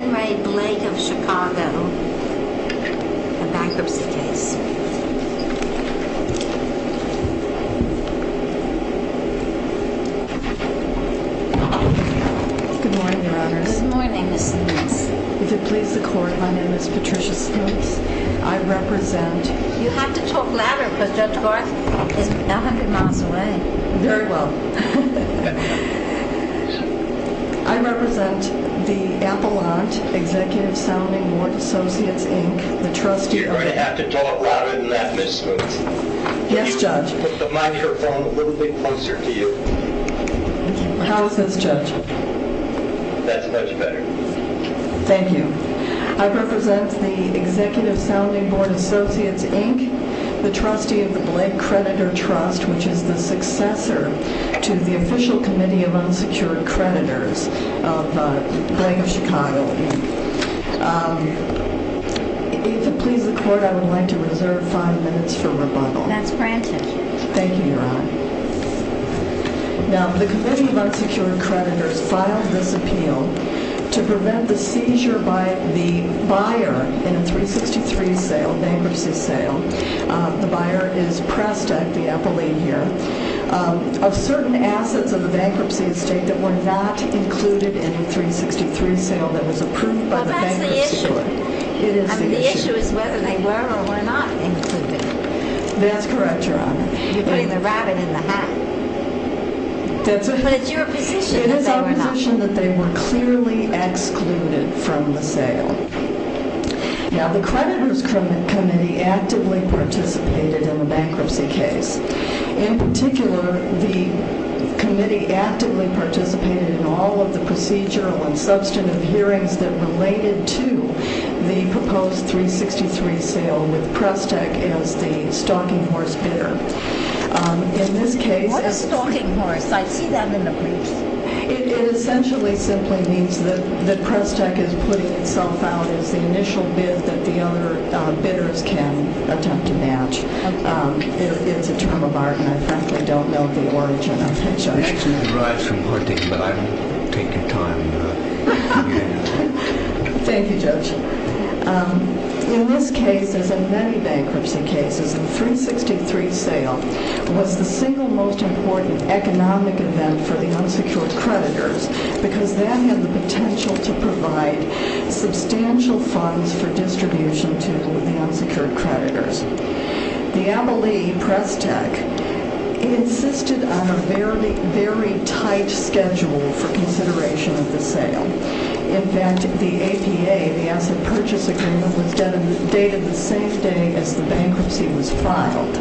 a bankruptcy case. Good morning, Your Honors. Good morning, Ms. Smith. If it please the Court, my name is Patricia Smith. I represent... You have to talk louder because Judge Barth is a hundred miles away. Very well. I represent the Appellant, Executive Sounding Board Associates, Inc., the trustee... You're going to have to talk louder than that, Ms. Smith. Yes, Judge. Put the microphone a little bit closer to you. How is this, Judge? That's much better. Thank you. I represent the Executive Sounding Board Associates, Inc., the trustee of the Blake Creditor Trust, which is the successor to the Official Committee of Unsecured Creditors of Blake of Chicago. If it please the Court, I would like to reserve five minutes for rebuttal. That's granted. Thank you, Your Honor. Now, the Committee of Unsecured Creditors filed this appeal to prevent the seizure by the buyer in a 363 bankruptcy sale. The buyer is pressed, I have the appellee here, of certain assets of the bankruptcy estate that were not included in the 363 sale that was approved by the Bankruptcy Court. Well, that's the issue. It is the issue. I mean, the issue is whether they were or were not included. That's correct, Your Honor. You're putting the rabbit in the hat. But it's your position that they were not. It is our position that they were clearly excluded from the sale. Now, the Creditors Committee actively participated in the bankruptcy case. In particular, the committee actively participated in all of the procedural and substantive hearings that related to the proposed 363 sale with Prestec as the stalking horse bidder. In this case, it's... What is stalking horse? I see that in the briefs. It essentially simply means that Prestec is putting itself out as the initial bid that the other bidders can attempt to match. It's a term of art, and I frankly don't know the origin of it, Judge. It actually derives from hunting, but I don't take your time. Thank you, Judge. In this case, as in many bankruptcy cases, the 363 sale was the single most important economic event for the unsecured creditors because that had the potential to provide substantial funds for distribution to the unsecured creditors. The Abilene, Prestec, insisted on a very tight schedule for consideration of the sale. In fact, the APA, the Asset Purchase Agreement, was dated the same day as the bankruptcy was filed,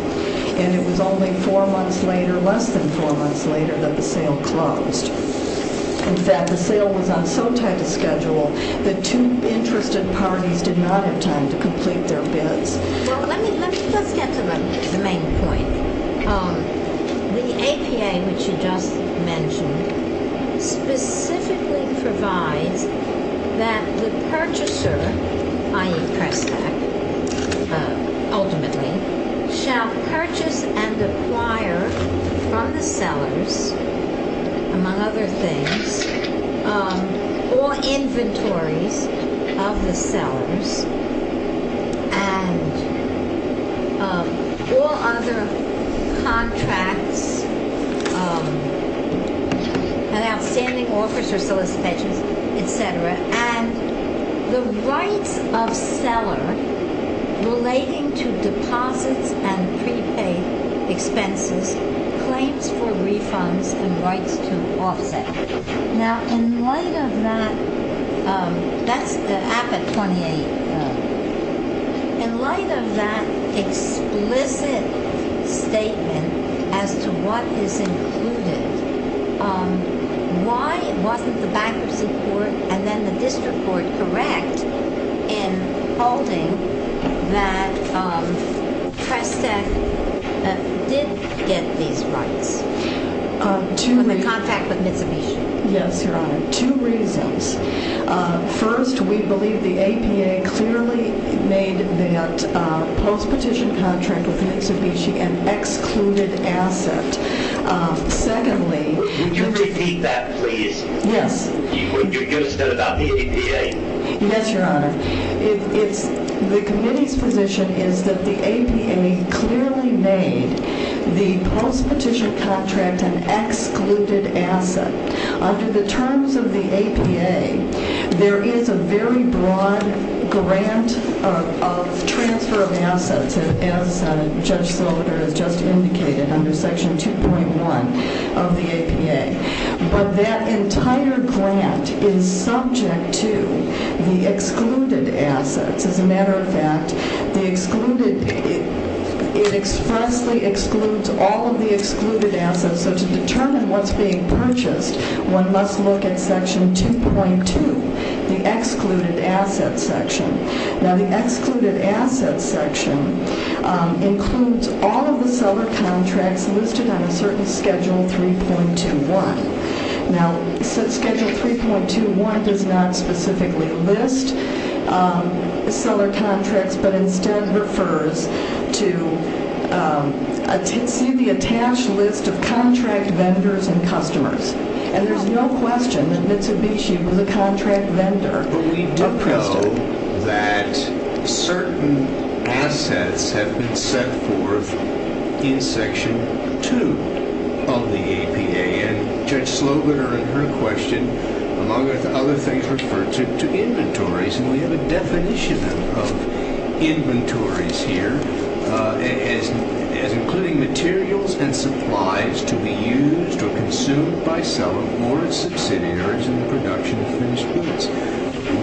and it was only four months later, less than four months later, that the sale closed. In fact, the sale was on so tight a schedule that two interested parties did not have time to complete their bids. Let's get to the main point. The APA, which you just mentioned, specifically provides that the purchaser, i.e. Prestec, ultimately, shall purchase and acquire from the sellers, among other things, all inventories of the sellers, and all other contracts and outstanding offers for solicitations, etc., and the rights of seller relating to deposits and prepaid expenses, claims for refunds, and rights to offset. Now, in light of that explicit statement as to what is included, why wasn't the bankruptcy court and then the district court correct in holding that Prestec did get these rights? In the contract with Mitsubishi? Yes, Your Honor. Two reasons. First, we believe the APA clearly made that post-petition contract with Mitsubishi an excluded asset. Secondly, Would you repeat that, please? Yes. What you just said about the APA. Yes, Your Honor. The committee's position is that the APA clearly made the post-petition contract an excluded asset. Under the terms of the APA, there is a very broad grant of transfer of assets, as Judge Slaughter has just indicated, under Section 2.1 of the APA. But that entire grant is subject to the excluded assets. As a matter of fact, it expressly excludes all of the excluded assets. So to determine what's being purchased, one must look at Section 2.2, the excluded assets section. Now, the excluded assets section includes all of the seller contracts listed on a certain Schedule 3.21. Now, Schedule 3.21 does not specifically list seller contracts, but instead refers to see the attached list of contract vendors and customers. And there's no question that Mitsubishi was a contract vendor. But we do know that certain assets have been set forth in Section 2 of the APA. And Judge Slaughter, in her question, among other things, referred to inventories. And we have a definition of inventories here as including materials and supplies to be used or consumed by seller or its subsidiaries in the production of finished goods.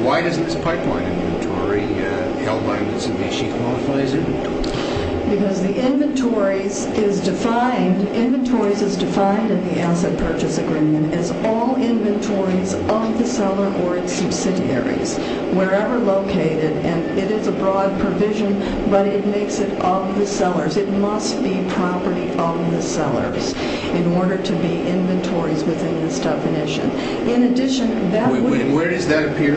Why doesn't this pipeline inventory held by Mitsubishi qualify as inventory? Because the inventories is defined in the asset purchase agreement as all inventories of the seller or its subsidiaries, wherever located. And it is a broad provision, but it makes it of the sellers. It must be property of the sellers in order to be inventories within this definition. Where does that appear?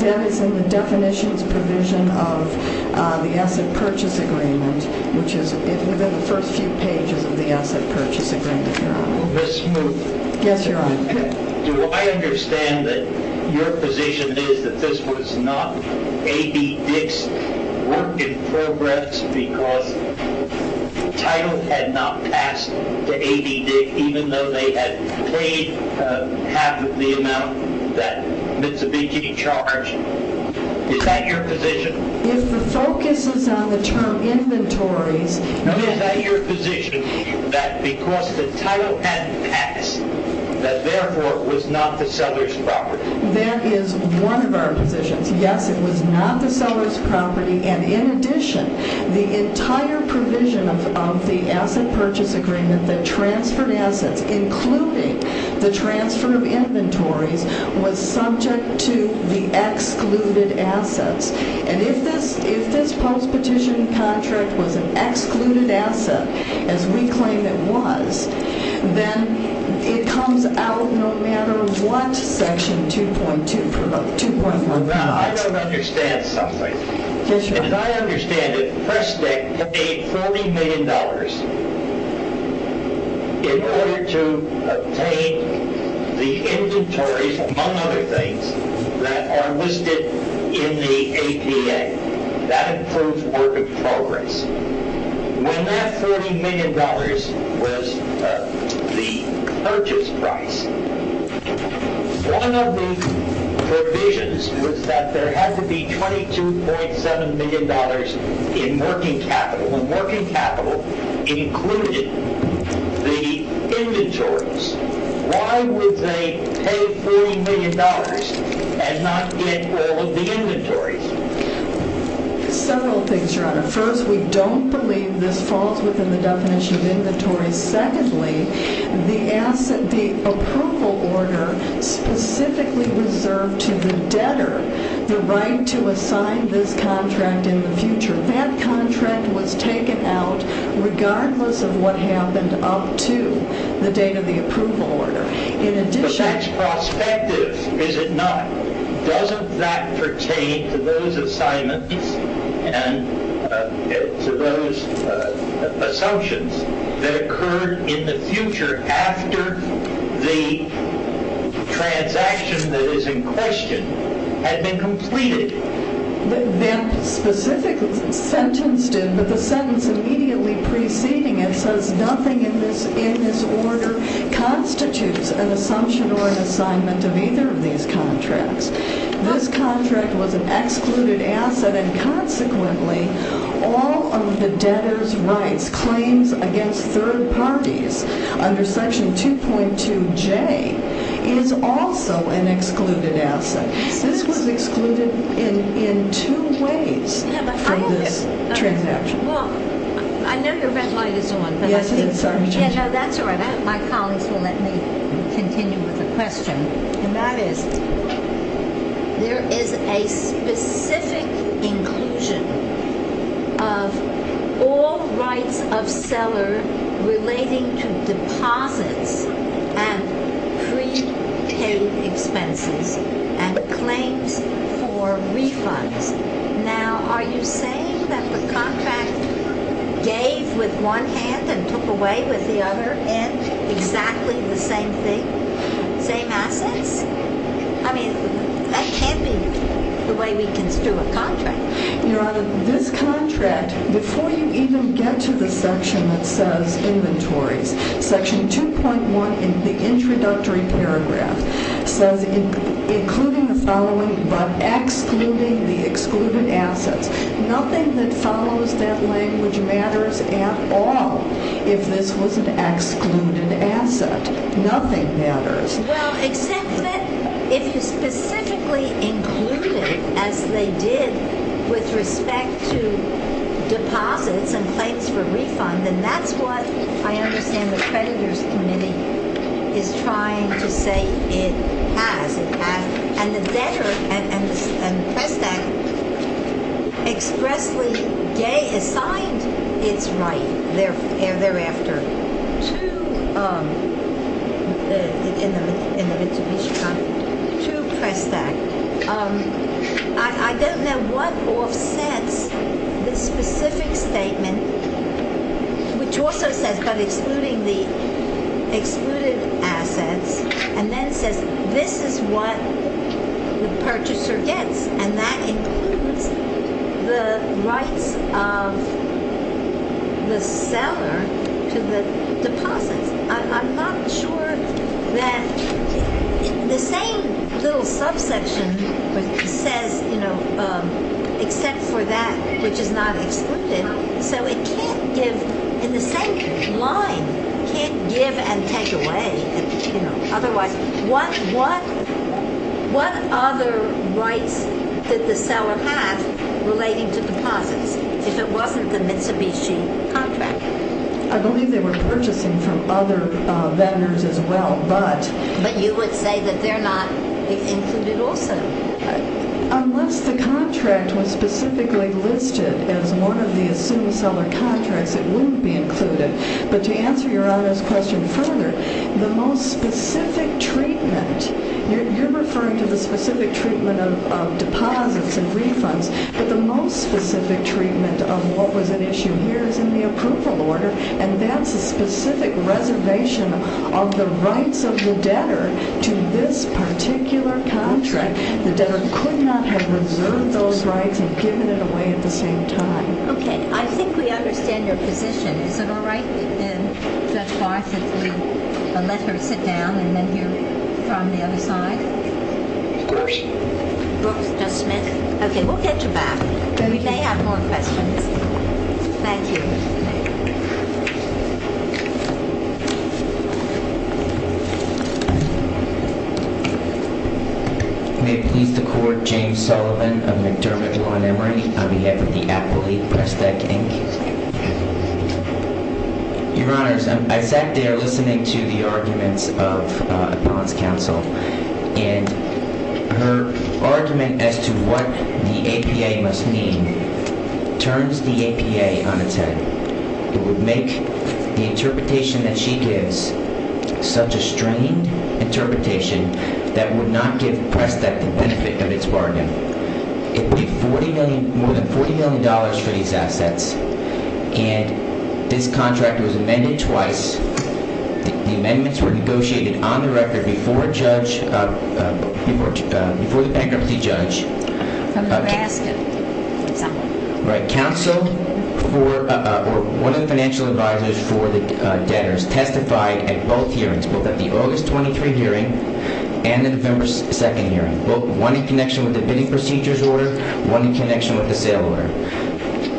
That is in the definitions provision of the asset purchase agreement, which is within the first few pages of the asset purchase agreement. Ms. Smoot. Yes, Your Honor. Do I understand that your position is that this was not A.B. Dick's work in progress because title had not passed to A.B. Dick, even though they had paid half of the amount that Mitsubishi charged? Is that your position? If the focus is on the term inventories. Is that your position that because the title hadn't passed, that therefore it was not the seller's property? That is one of our positions. Yes, it was not the seller's property. And in addition, the entire provision of the asset purchase agreement that transferred assets, including the transfer of inventories, was subject to the excluded assets. And if this post-petition contract was an excluded asset, as we claim it was, then it comes out no matter what Section 2.1 provides. Now, I don't understand something. Yes, Your Honor. As I understand it, PressTech paid $40 million in order to obtain the inventories, among other things, that are listed in the APA. That proves work in progress. When that $40 million was the purchase price, one of the provisions was that there had to be $22.7 million in working capital. When working capital included the inventories, why would they pay $40 million and not get all of the inventories? Several things, Your Honor. First, we don't believe this falls within the definition of inventories. Secondly, the approval order specifically reserved to the debtor the right to assign this contract in the future. That contract was taken out regardless of what happened up to the date of the approval order. But that's prospective, is it not? Doesn't that pertain to those assignments and to those assumptions that occurred in the future after the transaction that is in question had been completed? The sentence immediately preceding it says, Nothing in this order constitutes an assumption or an assignment of either of these contracts. This contract was an excluded asset, and consequently, all of the debtor's rights claims against third parties under Section 2.2J is also an excluded asset. This was excluded in two ways from this transaction. I know your red light is on. Yes, it is. That's all right. My colleagues will let me continue with the question. And that is, there is a specific inclusion of all rights of seller relating to deposits and prepaid expenses and claims for refunds. Now, are you saying that the contract gave with one hand and took away with the other and exactly the same thing? Same assets? I mean, that can't be the way we construe a contract. Your Honor, this contract, before you even get to the section that says inventories, Section 2.1 in the introductory paragraph says including the following but excluding the excluded assets. Nothing that follows that language matters at all if this was an excluded asset. Nothing matters. Well, except that if you specifically included, as they did with respect to deposits and claims for refund, then that's what I understand the creditor's committee is trying to say it has. And the debtor and Prestak expressly gay assigned its right thereafter to Prestak. I don't know what offsets the specific statement, which also says but excluding the excluded assets, and then says this is what the purchaser gets, and that includes the rights of the seller to the deposits. I'm not sure that the same little subsection says, you know, except for that which is not excluded. So it can't give, in the same line, can't give and take away, you know, otherwise, what other rights did the seller have relating to deposits if it wasn't the Mitsubishi contract? I believe they were purchasing from other vendors as well, but But you would say that they're not included also. Unless the contract was specifically listed as one of the assumed seller contracts, it wouldn't be included. But to answer Your Honor's question further, the most specific treatment, you're referring to the specific treatment of deposits and refunds, but the most specific treatment of what was at issue here is in the approval order, and that's a specific reservation of the rights of the debtor to this particular contract. The debtor could not have reserved those rights and given it away at the same time. Okay, I think we understand your position. Is it all right, Judge Barth, if we let her sit down and then hear from the other side? Judge Smith? Okay, we'll get you back. We may have more questions. Thank you. May it please the Court, James Sullivan of McDermott Law & Emory, on behalf of the Appellate Prestec, Inc. Your Honors, I sat there listening to the arguments of the Appellant's Counsel, and her argument as to what the APA must mean turns the APA on its head. It would make the interpretation that she gives such a strained interpretation that would not give Prestec the benefit of its bargain. It would be more than $40 million for these assets, and this contract was amended twice. The amendments were negotiated on the record before the bankruptcy judge. Counsel for one of the financial advisors for the debtors testified at both hearings, both at the August 23 hearing and the November 2 hearing, both one in connection with the bidding procedures order, one in connection with the sale order.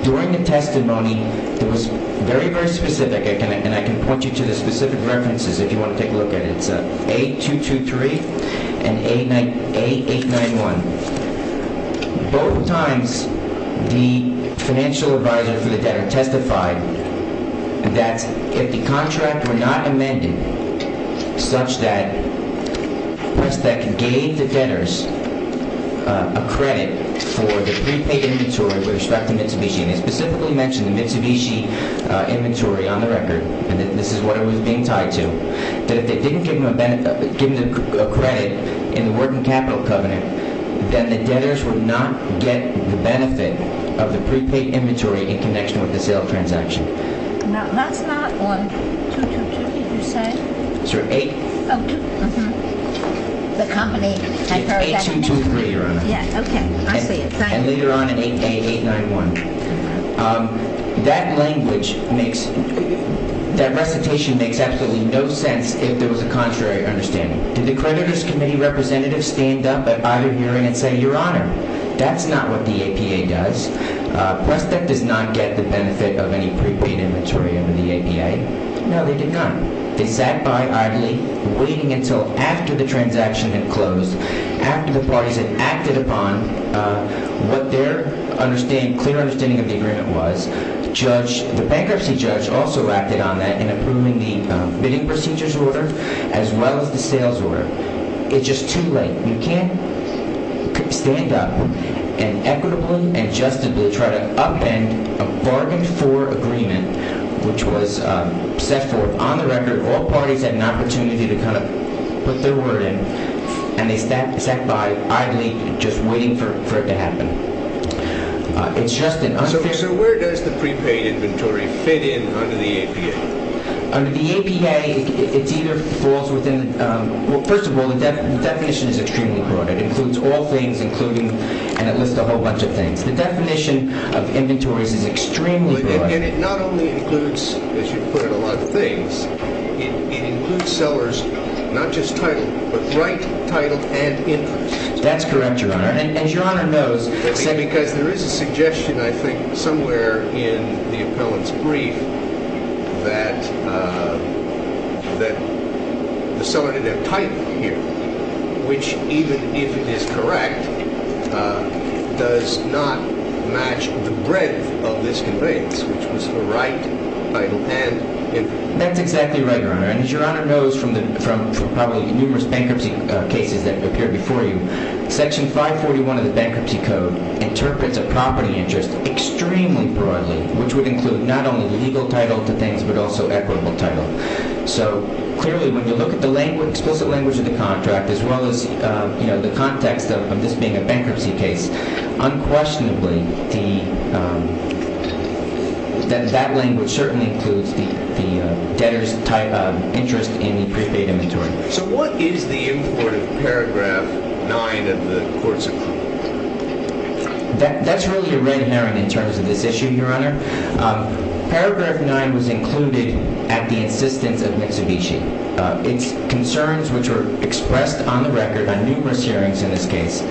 During the testimony, it was very, very specific, and I can point you to the specific references if you want to take a look at it. It's A223 and A891. Both times, the financial advisor for the debtor testified that if the contract were not amended such that Prestec gave the debtors a credit for the prepaid inventory with respect to Mitsubishi, and it specifically mentioned the Mitsubishi inventory on the record, and that this is what it was being tied to, that if they didn't give them a credit in the working capital covenant, then the debtors would not get the benefit of the prepaid inventory in connection with the sale transaction. Now, that's not on 222, did you say? Sir, A223, Your Honor. Yeah, okay. I see it. Thank you. And later on in A891. That language makes – that recitation makes absolutely no sense if there was a contrary understanding. Did the creditors' committee representatives stand up at either hearing and say, Your Honor, that's not what the APA does. Prestec does not get the benefit of any prepaid inventory under the APA. No, they did not. They sat by idly, waiting until after the transaction had closed, after the parties had acted upon what their clear understanding of the agreement was. The bankruptcy judge also acted on that in approving the bidding procedures order as well as the sales order. It's just too late. We can't stand up and equitably and justly try to upend a bargain-for agreement, which was set forth on the record. All parties had an opportunity to kind of put their word in, and they sat by idly, just waiting for it to happen. It's just an unfair – So where does the prepaid inventory fit in under the APA? Under the APA, it either falls within – well, first of all, the definition is extremely broad. It includes all things, including – and it lists a whole bunch of things. The definition of inventories is extremely broad. And it not only includes, as you put it, a lot of things. It includes sellers not just titled, but right titled and interest. That's correct, Your Honor. And as Your Honor knows – Because there is a suggestion, I think, somewhere in the appellant's brief that the seller did not type here, which, even if it is correct, does not match the breadth of this convention, which was for right titled and interest. That's exactly right, Your Honor. And as Your Honor knows from probably numerous bankruptcy cases that appeared before you, Section 541 of the Bankruptcy Code interprets a property interest extremely broadly, which would include not only legal title to things, but also equitable title. So clearly, when you look at the explicit language of the contract, as well as the context of this being a bankruptcy case, unquestionably, that language certainly includes the debtor's type of interest in the prepaid inventory. So what is the import of Paragraph 9 of the Court's approval? That's really a red herring in terms of this issue, Your Honor. Paragraph 9 was included at the insistence of Mitsubishi. Its concerns, which were expressed on the record on numerous hearings in this case,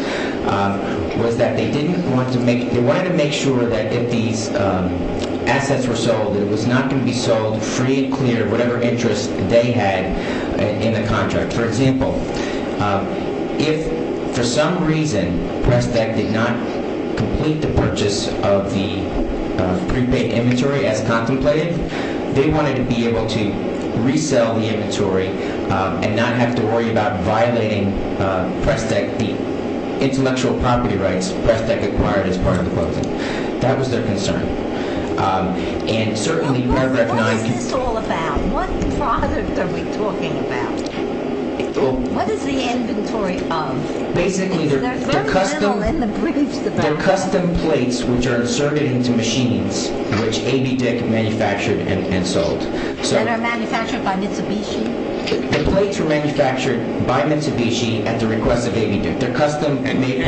was that they didn't want to make – they wanted to make sure that if these assets were sold, it was not going to be sold free, clear, whatever interest they had in the contract. For example, if for some reason Prestec did not complete the purchase of the prepaid inventory as contemplated, they wanted to be able to resell the inventory and not have to worry about violating Prestec, the intellectual property rights Prestec acquired as part of the closing. That was their concern. What is this all about? What product are we talking about? What is the inventory of? Basically, they're custom plates which are inserted into machines which ABDIC manufactured and sold. And are manufactured by Mitsubishi? The plates were manufactured by Mitsubishi at the request of ABDIC. And they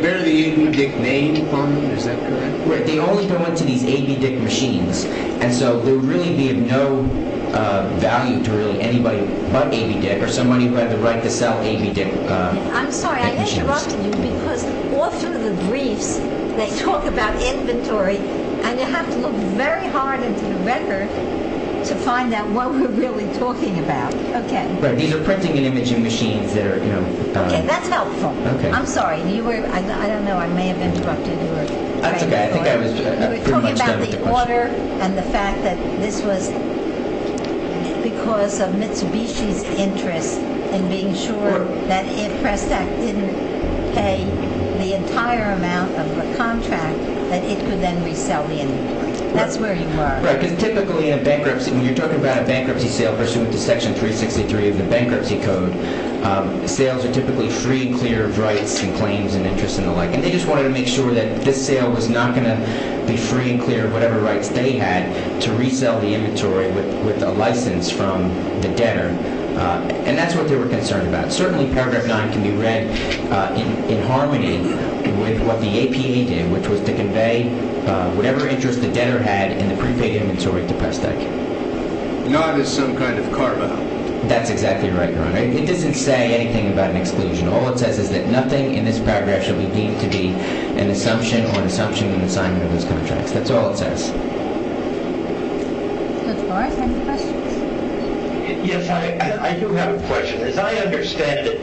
bear the ABDIC name on them? Is that correct? They only go into these ABDIC machines. And so there would really be of no value to really anybody but ABDIC or somebody who had the right to sell ABDIC machines. I'm sorry. I interrupted you because all through the briefs they talk about inventory and you have to look very hard into the record to find out what we're really talking about. Okay. These are printing and imaging machines that are – Okay. That's helpful. I'm sorry. I don't know. I may have interrupted you. That's okay. I think I was pretty much done with the question. You were talking about the order and the fact that this was because of Mitsubishi's interest in being sure that if Prestec didn't pay the entire amount of the contract that it could then resell the inventory. That's where you were. Right. Because typically in a bankruptcy – when you're talking about a bankruptcy sale pursuant to Section 363 of the Bankruptcy Code, sales are typically free and clear of rights and claims and interests and the like. And they just wanted to make sure that this sale was not going to be free and clear of whatever rights they had to resell the inventory with a license from the debtor. And that's what they were concerned about. Certainly, Paragraph 9 can be read in harmony with what the APA did, which was to convey whatever interest the debtor had in the prepaid inventory to Prestec. Not as some kind of carve-out. That's exactly right, Your Honor. It doesn't say anything about an exclusion. All it says is that nothing in this paragraph shall be deemed to be an assumption or an assumption in the assignment of these contracts. That's all it says. Judge Barr, do you have any questions? Yes, I do have a question. As I understand it,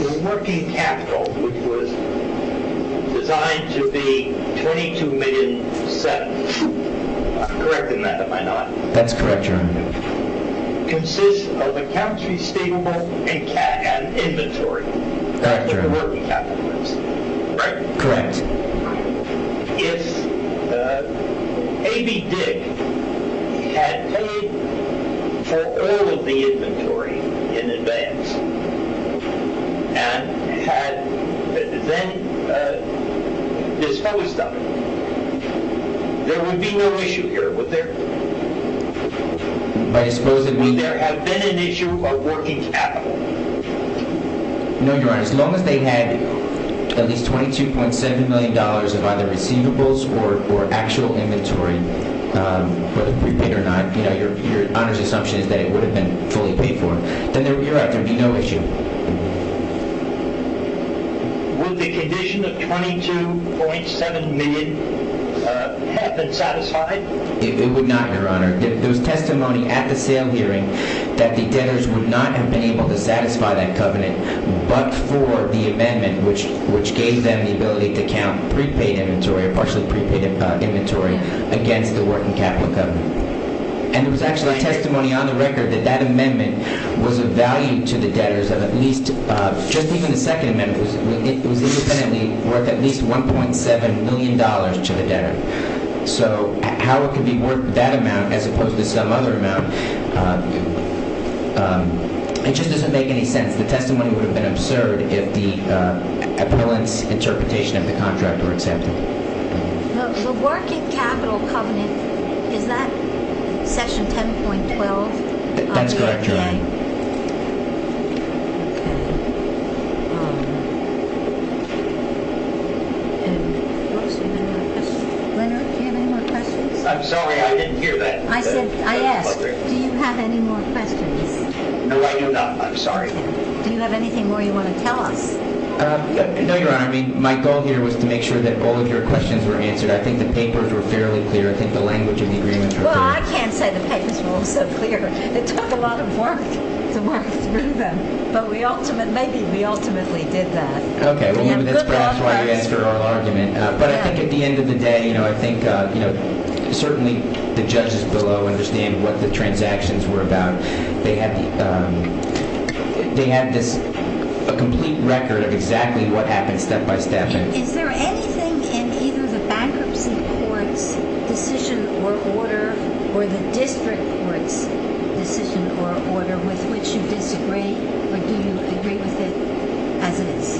the working capital, which was designed to be $22 million set – I'm correcting that, am I not? That's correct, Your Honor. – consists of a country, state, and inventory. That's correct. The working capital is. Correct? Correct. If A.B. Dick had paid for all of the inventory in advance and had then disposed of it, there would be no issue here, would there? By disposing of it? Would there have been an issue of working capital? No, Your Honor. As long as they had at least $22.7 million of either receivables or actual inventory, whether prepaid or not, Your Honor's assumption is that it would have been fully paid for, then you're right. There would be no issue. Would the condition of $22.7 million have been satisfied? It would not, Your Honor. There was testimony at the sale hearing that the debtors would not have been able to satisfy that covenant but for the amendment which gave them the ability to count prepaid inventory or partially prepaid inventory against the working capital covenant. And there was actually testimony on the record that that amendment was of value to the debtors of at least – just even the second amendment was independently worth at least $1.7 million to the debtor. So how it could be worth that amount as opposed to some other amount, it just doesn't make any sense. The testimony would have been absurd if the appellant's interpretation of the contract were accepted. The working capital covenant, is that section 10.12? That's correct, Your Honor. Okay. And who else? Do you have any more questions? Leonard, do you have any more questions? I'm sorry, I didn't hear that. I said – I asked, do you have any more questions? No, I do not. I'm sorry. Do you have anything more you want to tell us? No, Your Honor. I mean, my goal here was to make sure that all of your questions were answered. I think the papers were fairly clear. I think the language of the agreements were clear. Well, I can't say the papers were all so clear. It took a lot of work to work through them. But we ultimately – maybe we ultimately did that. Okay, well, maybe that's perhaps why you asked for oral argument. But I think at the end of the day, you know, I think, you know, certainly the judges below understand what the transactions were about. They had the – they had this – a complete record of exactly what happened step by step. Is there anything in either the bankruptcy court's decision or order or the district court's decision or order with which you disagree? Or do you agree with it as it is?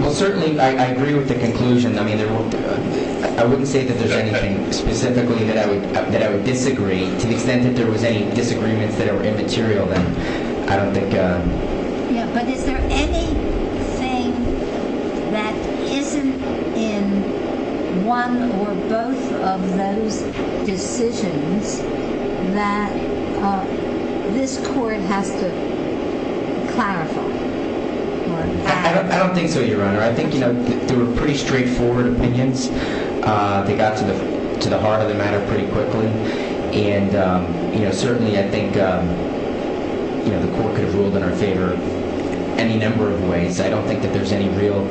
Well, certainly I agree with the conclusion. I mean, I wouldn't say that there's anything specifically that I would disagree. To the extent that there was any disagreements that were immaterial, then I don't think – Yeah, but is there anything that isn't in one or both of those decisions that this court has to clarify? I don't think so, Your Honor. I think, you know, they were pretty straightforward opinions. They got to the heart of the matter pretty quickly. And, you know, certainly I think, you know, the court could have ruled in our favor any number of ways. I don't think that there's any real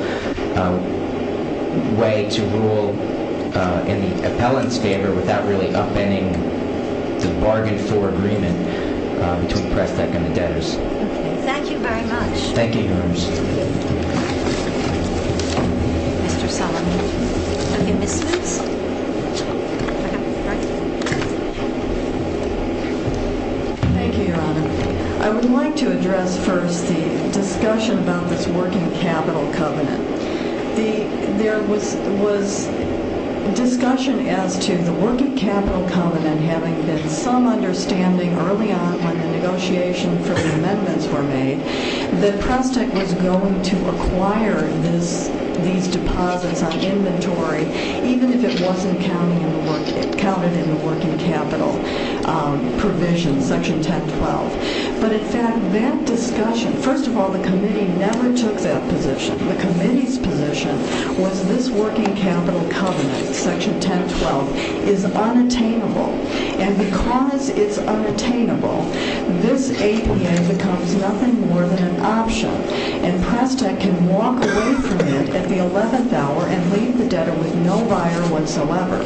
way to rule in the appellant's favor without really upending the bargain for agreement between Prestek and the debtors. Okay. Thank you very much. Thank you, Your Honor. Thank you. Mr. Solomon. Have you missed this? Thank you, Your Honor. I would like to address first the discussion about this working capital covenant. There was discussion as to the working capital covenant having been some understanding early on when the negotiation for the amendments were made that Prestek was going to acquire these deposits on inventory even if it wasn't counted in the working capital provision, section 1012. But, in fact, that discussion – first of all, the committee never took that position. The committee's position was this working capital covenant, section 1012, is unattainable. And because it's unattainable, this APA becomes nothing more than an option. And Prestek can walk away from it at the 11th hour and leave the debtor with no buyer whatsoever.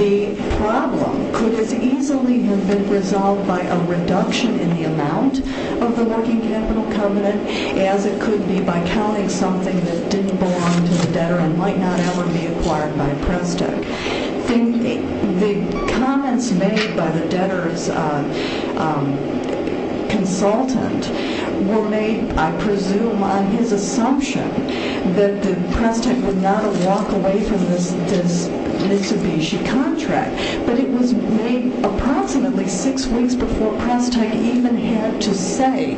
The problem could as easily have been resolved by a reduction in the amount of the working capital covenant as it could be by counting something that didn't belong to the debtor and might not ever be acquired by Prestek. The comments made by the debtor's consultant were made, I presume, on his assumption that Prestek would not walk away from this Mitsubishi contract. But it was made approximately six weeks before Prestek even had to say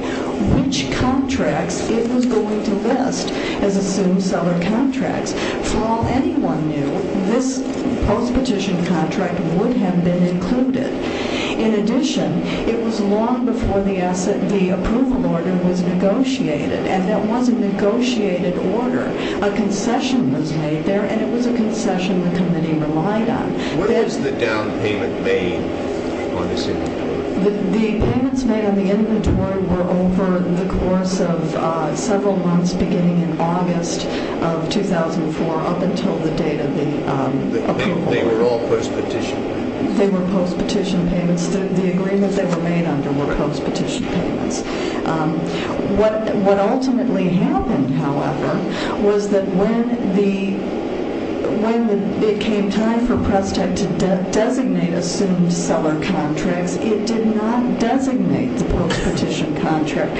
which contracts it was going to list as assumed seller contracts. For all anyone knew, this post-petition contract would have been included. In addition, it was long before the approval order was negotiated. And there was a negotiated order. A concession was made there, and it was a concession the committee relied on. What was the down payment made on this inventory? The payments made on the inventory were over the course of several months beginning in August of 2004 up until the date of the approval order. They were all post-petition payments? They were post-petition payments. The agreement they were made under were post-petition payments. What ultimately happened, however, was that when it came time for Prestek to designate assumed seller contracts, it did not designate the post-petition contract.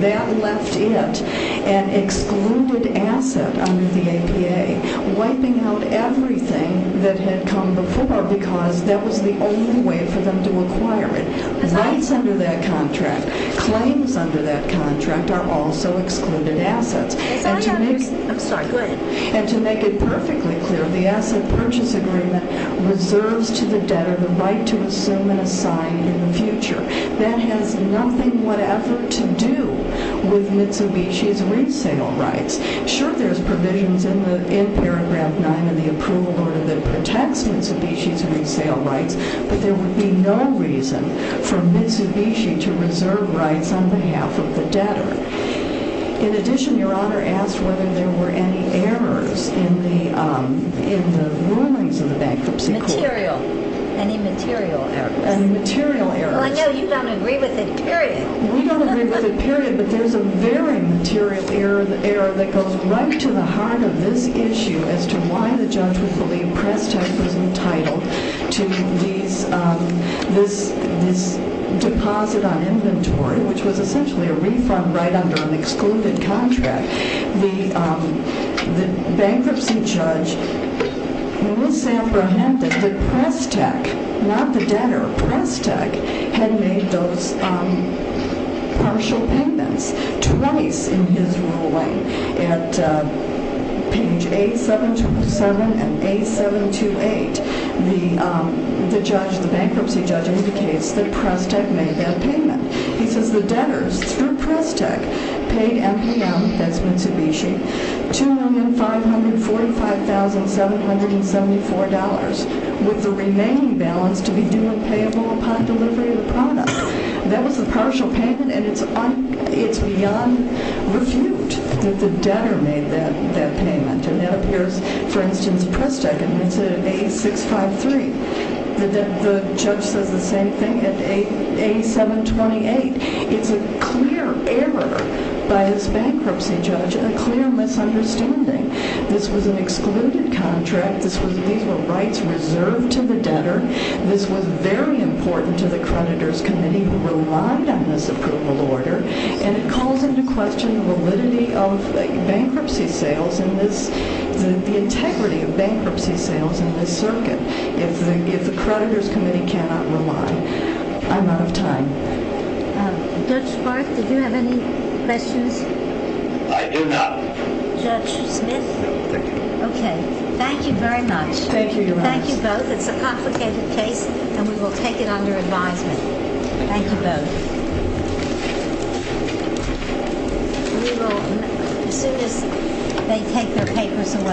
That left it an excluded asset under the APA, wiping out everything that had come before because that was the only way for them to acquire it. Rights under that contract, claims under that contract are also excluded assets. And to make it perfectly clear, the asset purchase agreement reserves to the debtor the right to assume and assign in the future. That has nothing whatever to do with Mitsubishi's resale rights. Sure, there's provisions in Paragraph 9 of the approval order that protects Mitsubishi's resale rights, but there would be no reason for Mitsubishi to reserve rights on behalf of the debtor. In addition, Your Honor asked whether there were any errors in the rulings of the bankruptcy court. Any material errors. Any material errors. Well, I know you don't agree with it, period. We don't agree with it, period, but there's a very material error that goes right to the heart of this issue as to why the judge would believe Prestek was entitled to this deposit on inventory, which was essentially a refund right under an excluded contract. The bankruptcy judge, we will say apprehended that Prestek, not the debtor, Prestek had made those partial payments twice in his ruling. At page A727 and A728, the bankruptcy judge indicates that Prestek made that payment. He says the debtors, through Prestek, paid MPM, that's Mitsubishi, $2,545,774 with the remaining balance to be due and payable upon delivery of the product. That was the partial payment, and it's beyond refute that the debtor made that payment. And it appears, for instance, Prestek admits it at A653. The judge says the same thing at A728. It's a clear error by this bankruptcy judge, a clear misunderstanding. This was an excluded contract. These were rights reserved to the debtor. This was very important to the creditors committee who relied on this approval order, and it calls into question the validity of the bankruptcy sales and the integrity of bankruptcy sales in this circuit. If the creditors committee cannot rely, I'm out of time. Judge Barth, did you have any questions? I do not. Judge Smith? No, thank you. Okay. Thank you very much. Thank you, Your Honor. Thank you both. It's a complicated case, and we will take it under advisement. Thank you both. We will, as soon as they take their papers away.